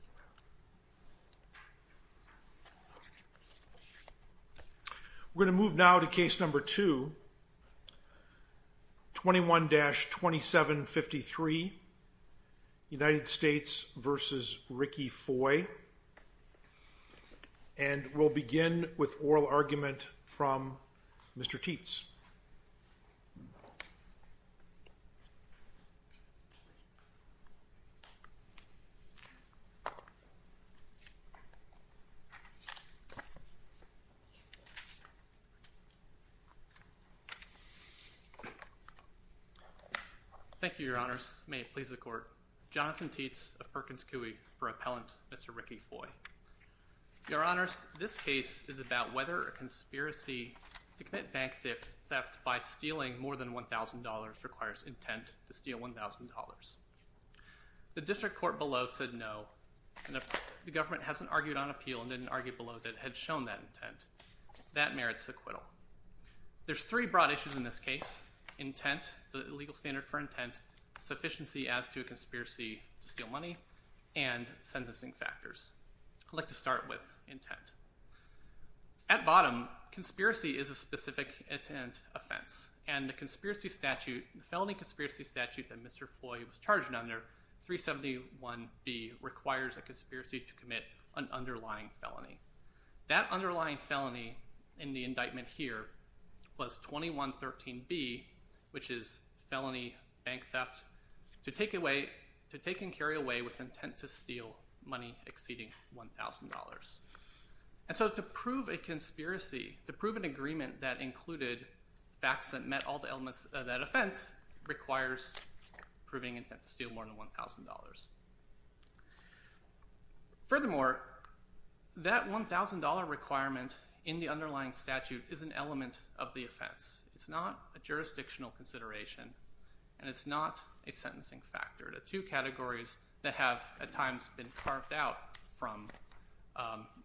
and we'll begin with oral argument from Mr. Tietz. We're going to move now to case number two, 21-2753, United States v. Rickie Foy, and we'll begin with oral argument from Mr. Tietz. Thank you, Your Honors. May it please the Court. Jonathan Tietz of Perkins Coie for Appellant Mr. Rickie Foy. Your Honors, this case is about whether a conspiracy to commit bank theft by stealing more than $1,000 requires intent to steal $1,000. The district court below said no, and the government hasn't argued on appeal and didn't argue below that it had shown that intent. That merits acquittal. There's three broad issues in this case, intent, the legal standard for intent, sufficiency as to a conspiracy to steal money, and sentencing factors. I'd like to start with intent. At bottom, conspiracy is a specific intent offense, and the felony conspiracy statute that Mr. Foy was charged under, 371B, requires a conspiracy to commit an underlying felony. That underlying felony in the indictment here was 2113B, which is felony bank theft, to take and carry away with intent to steal money exceeding $1,000. And so to prove a conspiracy, to prove an agreement that included facts that met all the elements of that offense, requires proving intent to steal more than $1,000. Furthermore, that $1,000 requirement in the underlying statute is an element of the offense. It's not a jurisdictional consideration, and it's not a sentencing factor. They're two categories that have at times been carved out from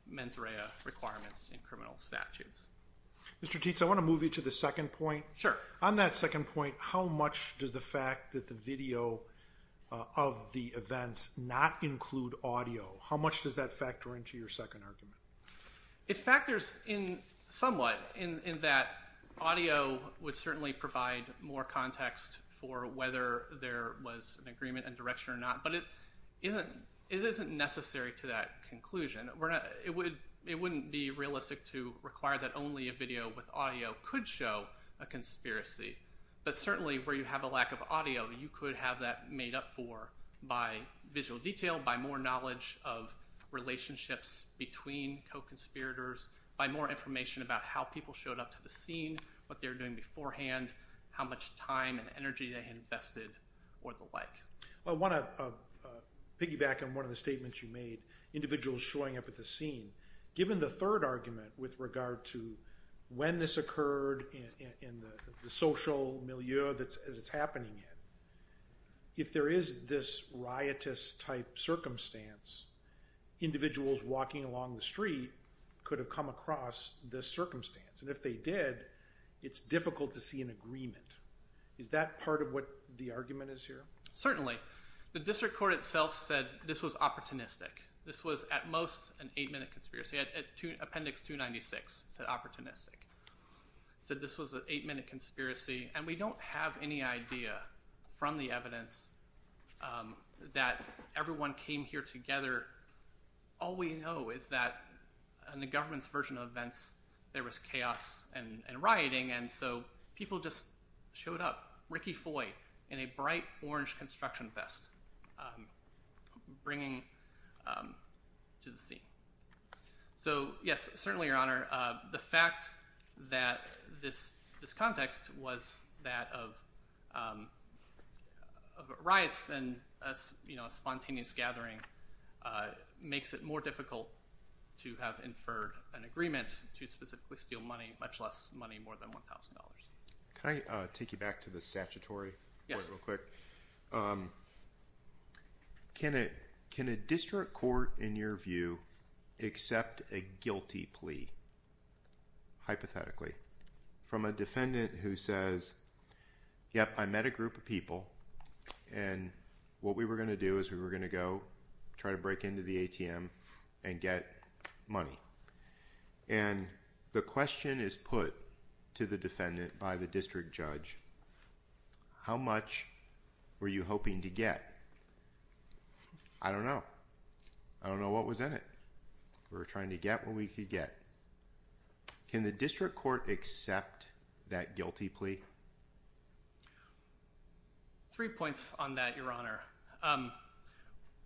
mens rea requirements in criminal statutes. Mr. Teets, I want to move you to the second point. Sure. On that second point, how much does the fact that the video of the events not include audio, how much does that factor into your second argument? It factors in somewhat in that audio would certainly provide more context for whether there was an agreement and direction or not, but it isn't necessary to that conclusion. It wouldn't be realistic to require that only a video with audio could show a conspiracy, but certainly where you have a lack of audio, you could have that made up for by visual detail, by more knowledge of relationships between co-conspirators, by more information about how people showed up to the scene, what they were doing beforehand, how much time and energy they invested, or the like. I want to piggyback on one of the statements you made, individuals showing up at the scene. Given the third argument with regard to when this occurred and the social milieu that it's happening in, if there is this riotous type circumstance, individuals walking along the street could have come across this circumstance, and if they did, it's difficult to see an agreement. Is that part of what the argument is here? Certainly. The district court itself said this was opportunistic. This was at most an eight-minute conspiracy. Appendix 296 said opportunistic. It said this was an eight-minute conspiracy, and we don't have any idea from the evidence that everyone came here together. All we know is that in the government's version of events, there was chaos and rioting, and so people just showed up. Ricky Foy in a bright orange construction vest bringing to the scene. So, yes, certainly, Your Honor, the fact that this context was that of riots and a spontaneous gathering makes it more difficult to have inferred an agreement to specifically steal money, much less money more than $1,000. Can I take you back to the statutory? Yes. Real quick. Can a district court, in your view, accept a guilty plea, hypothetically, from a defendant who says, yep, I met a group of people, and what we were going to do is we were going to go try to break into the ATM and get money. And the question is put to the defendant by the district judge, how much were you hoping to get? I don't know. I don't know what was in it. We were trying to get what we could get. Can the district court accept that guilty plea? Three points on that, Your Honor.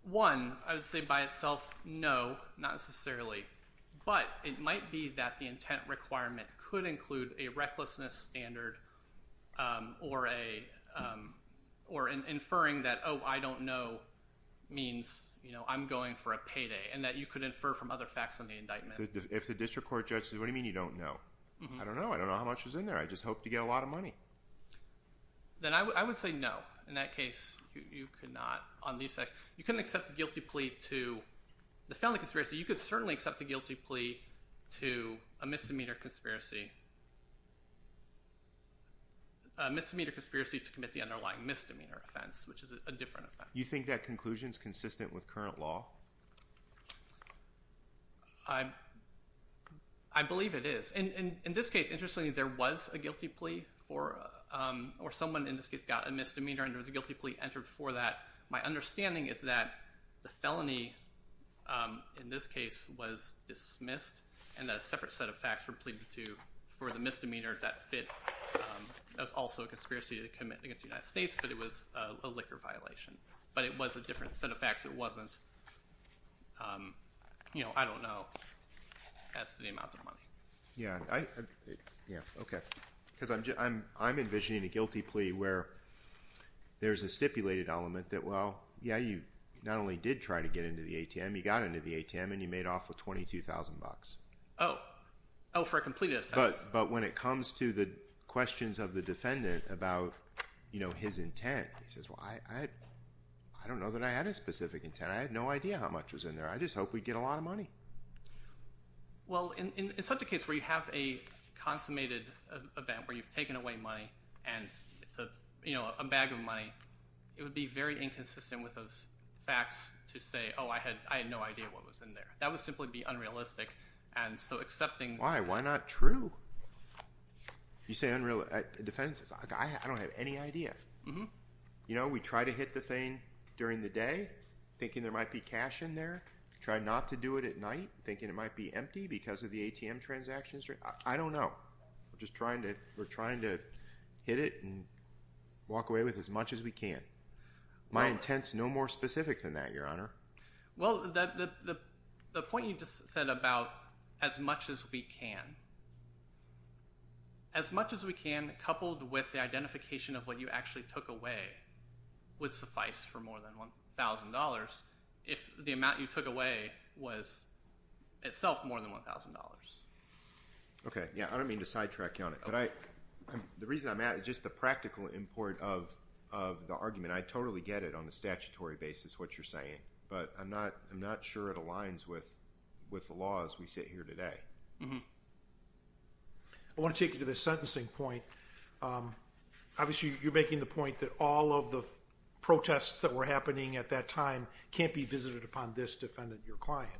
One, I would say by itself, no, not necessarily. But it might be that the intent requirement could include a recklessness standard or an inferring that, oh, I don't know, means I'm going for a payday and that you could infer from other facts on the indictment. If the district court judge says, what do you mean you don't know? I don't know. I don't know how much was in there. I just hoped to get a lot of money. Then I would say no. In that case, you could not on these facts. You couldn't accept the guilty plea to the felony conspiracy. You could certainly accept the guilty plea to a misdemeanor conspiracy, a misdemeanor conspiracy to commit the underlying misdemeanor offense, which is a different offense. You think that conclusion is consistent with current law? I believe it is. In this case, interestingly, there was a guilty plea or someone in this case got a misdemeanor and there was a guilty plea entered for that. My understanding is that the felony in this case was dismissed and that a separate set of facts were pleaded to for the misdemeanor that fit. That was also a conspiracy to commit against the United States, but it was a liquor violation. But it was a different set of facts. It wasn't, you know, I don't know as to the amount of money. Yeah, okay, because I'm envisioning a guilty plea where there's a stipulated element that, well, yeah, you not only did try to get into the ATM, you got into the ATM and you made off with $22,000. Oh, for a completed offense. But when it comes to the questions of the defendant about his intent, he says, well, I don't know that I had a specific intent. I had no idea how much was in there. I just hoped we'd get a lot of money. Well, in such a case where you have a consummated event where you've taken away money and it's, you know, a bag of money, it would be very inconsistent with those facts to say, oh, I had no idea what was in there. That would simply be unrealistic, and so accepting— Why? Why not true? You say defenses. I don't have any idea. You know, we try to hit the thing during the day thinking there might be cash in there. We try not to do it at night thinking it might be empty because of the ATM transactions. I don't know. We're just trying to hit it and walk away with as much as we can. My intent's no more specific than that, Your Honor. Well, the point you just said about as much as we can, as much as we can coupled with the identification of what you actually took away would suffice for more than $1,000 if the amount you took away was itself more than $1,000. Okay, yeah, I don't mean to sidetrack you on it, but the reason I'm asking is just the practical import of the argument. I totally get it on a statutory basis, what you're saying, but I'm not sure it aligns with the laws we sit here today. I want to take you to the sentencing point. Obviously, you're making the point that all of the protests that were happening at that time can't be visited upon this defendant, your client.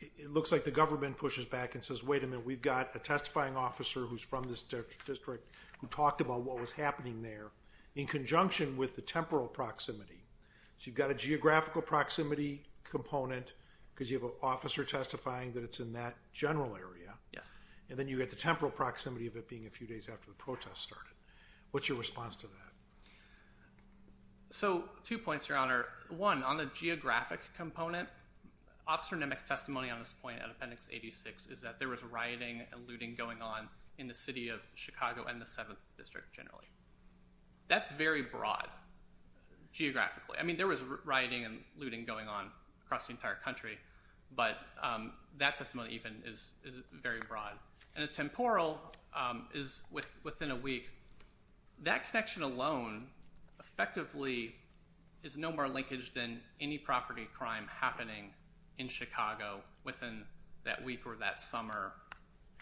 It looks like the government pushes back and says, wait a minute, we've got a testifying officer who's from this district who talked about what was happening there in conjunction with the temporal proximity. So you've got a geographical proximity component because you have an officer testifying that it's in that general area. Yes. And then you've got the temporal proximity of it being a few days after the protest started. What's your response to that? So two points, Your Honor. One, on the geographic component, Officer Nemec's testimony on this point at Appendix 86 is that there was rioting and looting going on in the city of Chicago and the 7th District generally. That's very broad geographically. I mean, there was rioting and looting going on across the entire country, but that testimony even is very broad. And a temporal is within a week. That connection alone effectively is no more linkage than any property crime happening in Chicago within that week or that summer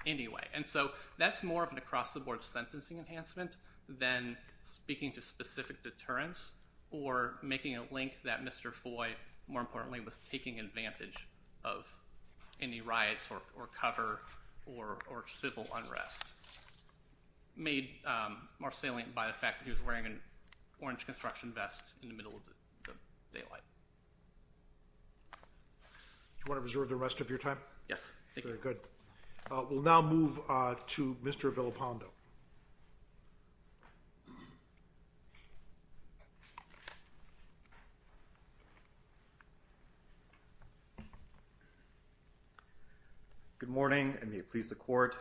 anyway. And so that's more of an across-the-board sentencing enhancement than speaking to specific deterrence or making a link that Mr. Foy, more importantly, was taking advantage of any riots or cover or civil unrest, made more salient by the fact that he was wearing an orange construction vest in the middle of the daylight. Do you want to reserve the rest of your time? Yes. Very good. We'll now move to Mr. Villapando. Good morning, and may it please the Court.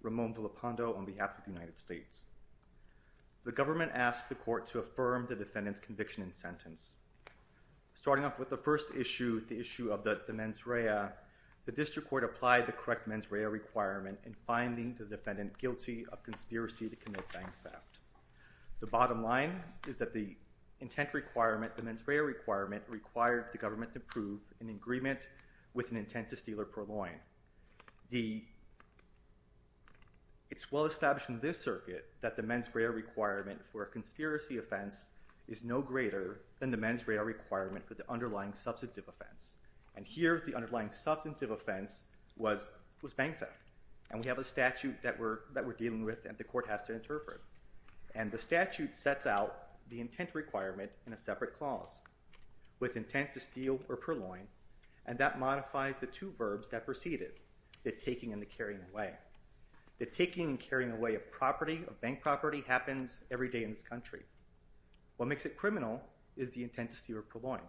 Ramon Villapando on behalf of the United States. The government asked the Court to affirm the defendant's conviction and sentence. Starting off with the first issue, the issue of the mens rea, the district court applied the correct mens rea requirement in finding the defendant guilty of conspiracy to commit bank theft. The bottom line is that the intent requirement, the mens rea requirement, required the government to prove in agreement with an intent to steal or purloin. It's well established in this circuit that the mens rea requirement for a conspiracy offense is no greater than the mens rea requirement for the underlying substantive offense. And here, the underlying substantive offense was bank theft. And we have a statute that we're dealing with and the Court has to interpret. And the statute sets out the intent requirement in a separate clause with intent to steal or purloin, and that modifies the two verbs that precede it, the taking and the carrying away. The taking and carrying away of property, of bank property, happens every day in this country. What makes it criminal is the intent to steal or purloin.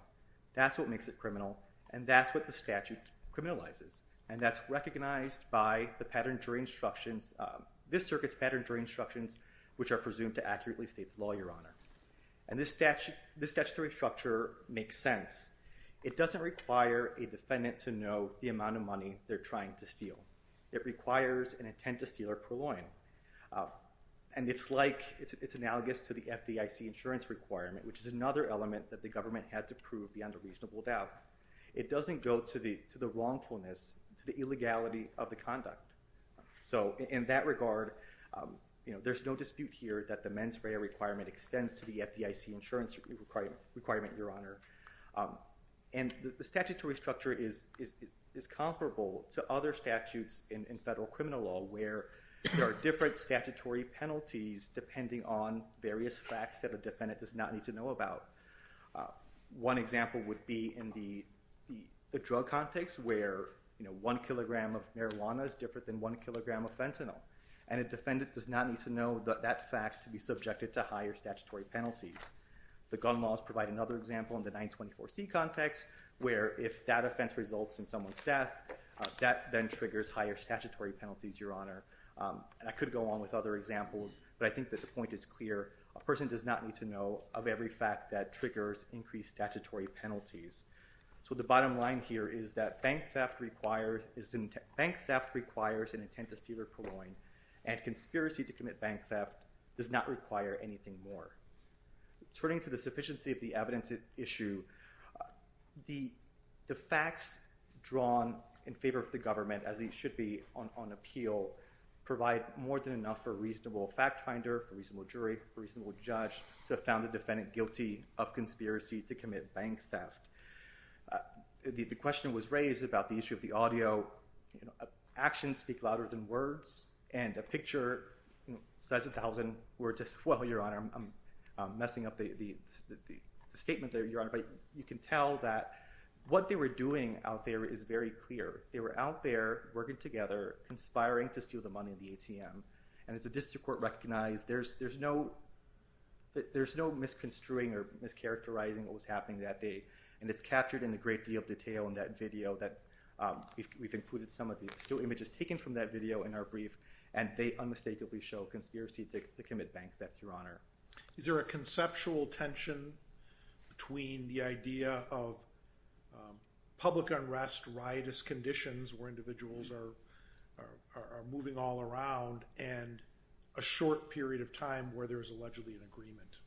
That's what makes it criminal, and that's what the statute criminalizes. And that's recognized by the pattern during instructions, this circuit's pattern during instructions, which are presumed to accurately state the law, Your Honor. And this statutory structure makes sense. It doesn't require a defendant to know the amount of money they're trying to steal. It requires an intent to steal or purloin. And it's like, it's analogous to the FDIC insurance requirement, which is another element that the government had to prove beyond a reasonable doubt. It doesn't go to the wrongfulness, to the illegality of the conduct. So in that regard, you know, there's no dispute here that the mens rea requirement extends to the FDIC insurance requirement, Your Honor. And the statutory structure is comparable to other statutes in federal criminal law where there are different statutory penalties depending on various facts that a defendant does not need to know about. One example would be in the drug context where, you know, one kilogram of marijuana is different than one kilogram of fentanyl, and a defendant does not need to know that fact to be subjected to higher statutory penalties. The gun laws provide another example in the 924C context, where if that offense results in someone's death, that then triggers higher statutory penalties, Your Honor. And I could go on with other examples, but I think that the point is clear. A person does not need to know of every fact that triggers increased statutory penalties. So the bottom line here is that bank theft requires an intent to steal a cologne, and conspiracy to commit bank theft does not require anything more. Turning to the sufficiency of the evidence at issue, the facts drawn in favor of the government, as they should be on appeal, provide more than enough for a reasonable fact finder, for a reasonable jury, for a reasonable judge to have found the defendant guilty of conspiracy to commit bank theft. The question was raised about the issue of the audio. You know, actions speak louder than words, and a picture, you know, size of 1,000 were just, well, Your Honor, I'm messing up the statement there, Your Honor, but you can tell that what they were doing out there is very clear. They were out there working together, conspiring to steal the money in the ATM, and as the district court recognized, there's no misconstruing or mischaracterizing what was happening that day, and it's captured in a great deal of detail in that video that we've included some of the images taken from that video in our brief, and they unmistakably show conspiracy to commit bank theft, Your Honor. Is there a conceptual tension between the idea of public unrest, riotous conditions where individuals are moving all around, and a short period of time where there's allegedly an agreement?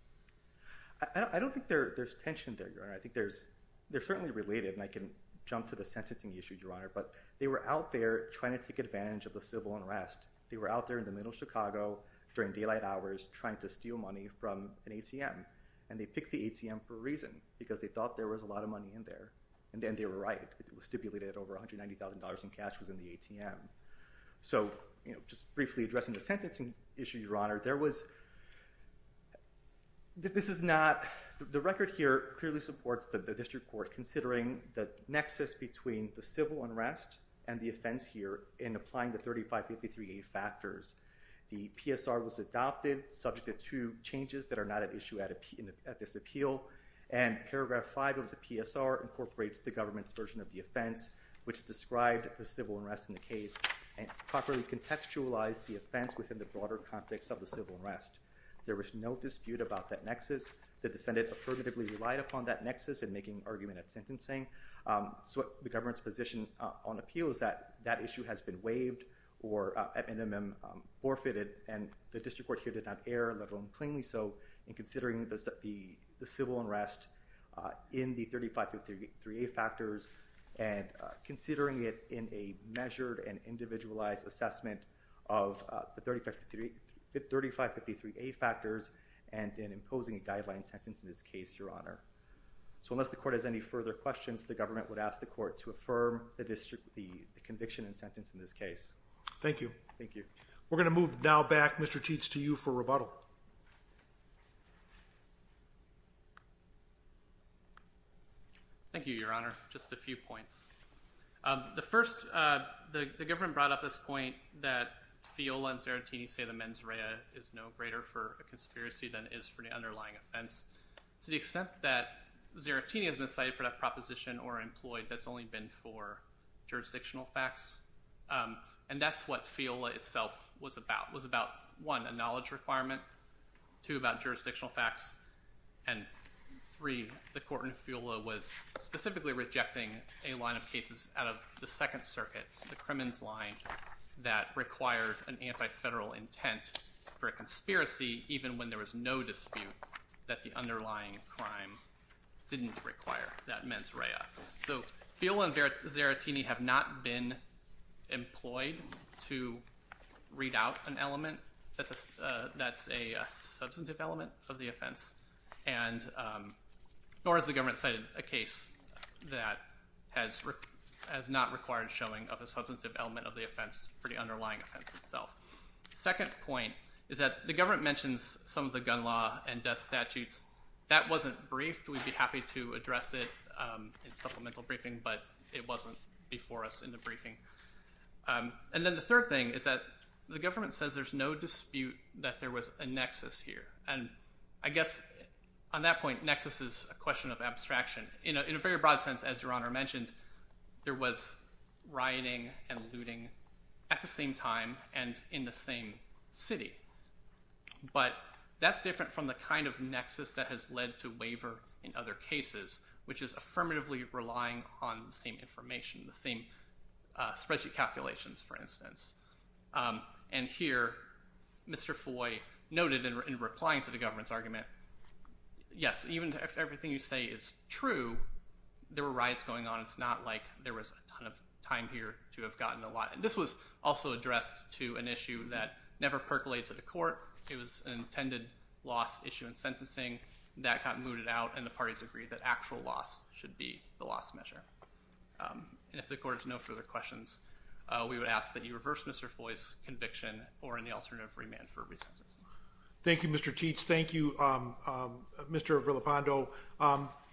I don't think there's tension there, Your Honor. I think they're certainly related, and I can jump to the sentencing issue, Your Honor, but they were out there trying to take advantage of the civil unrest. They were out there in the middle of Chicago during daylight hours trying to steal money from an ATM, and they picked the ATM for a reason because they thought there was a lot of money in there, and then they were right. It was stipulated over $190,000 in cash was in the ATM. So, you know, just briefly addressing the sentencing issue, Your Honor, there was – this is not – the record here clearly supports the district court considering the nexus between the civil unrest and the offense here in applying the 3553A factors. The PSR was adopted subject to two changes that are not at issue at this appeal, and paragraph 5 of the PSR incorporates the government's version of the offense which described the civil unrest in the case and properly contextualized the offense within the broader context of the civil unrest. There was no dispute about that nexus. The defendant affirmatively relied upon that nexus in making argument at sentencing. So the government's position on appeal is that that issue has been waived or at minimum forfeited, and the district court here did not err, let alone plainly so, in considering the civil unrest in the 3553A factors and considering it in a measured and individualized assessment of the 3553A factors and then imposing a guideline sentence in this case, Your Honor. So unless the court has any further questions, the government would ask the court to affirm the conviction and sentence in this case. Thank you. Thank you. We're going to move now back, Mr. Tietz, to you for rebuttal. Thank you, Your Honor. Just a few points. The first – the government brought up this point that Fiola and Zarattini say the mens rea is no greater for a conspiracy than it is for the underlying offense. To the extent that Zarattini has been cited for that proposition or employed, that's only been for jurisdictional facts. And that's what Fiola itself was about. It was about, one, a knowledge requirement, two, about jurisdictional facts, and three, the court in Fiola was specifically rejecting a line of cases out of the Second Circuit, the Crimmins line, that required an anti-federal intent for a conspiracy even when there was no dispute that the underlying crime didn't require that mens rea. So Fiola and Zarattini have not been employed to read out an element that's a substantive element of the offense, nor has the government cited a case that has not required showing of a substantive element of the offense for the underlying offense itself. The second point is that the government mentions some of the gun law and death statutes. That wasn't briefed. We'd be happy to address it in supplemental briefing, but it wasn't before us in the briefing. And then the third thing is that the government says there's no dispute that there was a nexus here. And I guess on that point, nexus is a question of abstraction. In a very broad sense, as Your Honor mentioned, there was rioting and looting at the same time, and in the same city. But that's different from the kind of nexus that has led to waiver in other cases, which is affirmatively relying on the same information, the same spreadsheet calculations, for instance. And here Mr. Foy noted in replying to the government's argument, yes, even if everything you say is true, there were riots going on. It's not like there was a ton of time here to have gotten a lot. This was also addressed to an issue that never percolated to the court. It was an intended loss issue in sentencing that got mooted out, and the parties agreed that actual loss should be the loss measure. And if the Court has no further questions, we would ask that you reverse Mr. Foy's conviction or in the alternative remand for a re-sentence. Thank you, Mr. Teets. Thank you, Mr. Villalpando.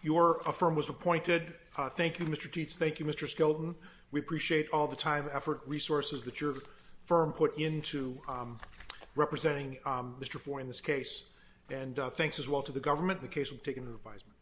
Your affirm was appointed. Thank you, Mr. Teets. Thank you, Mr. Skelton. We appreciate all the time, effort, resources that your firm put into representing Mr. Foy in this case. And thanks as well to the government. The case will be taken into advisement.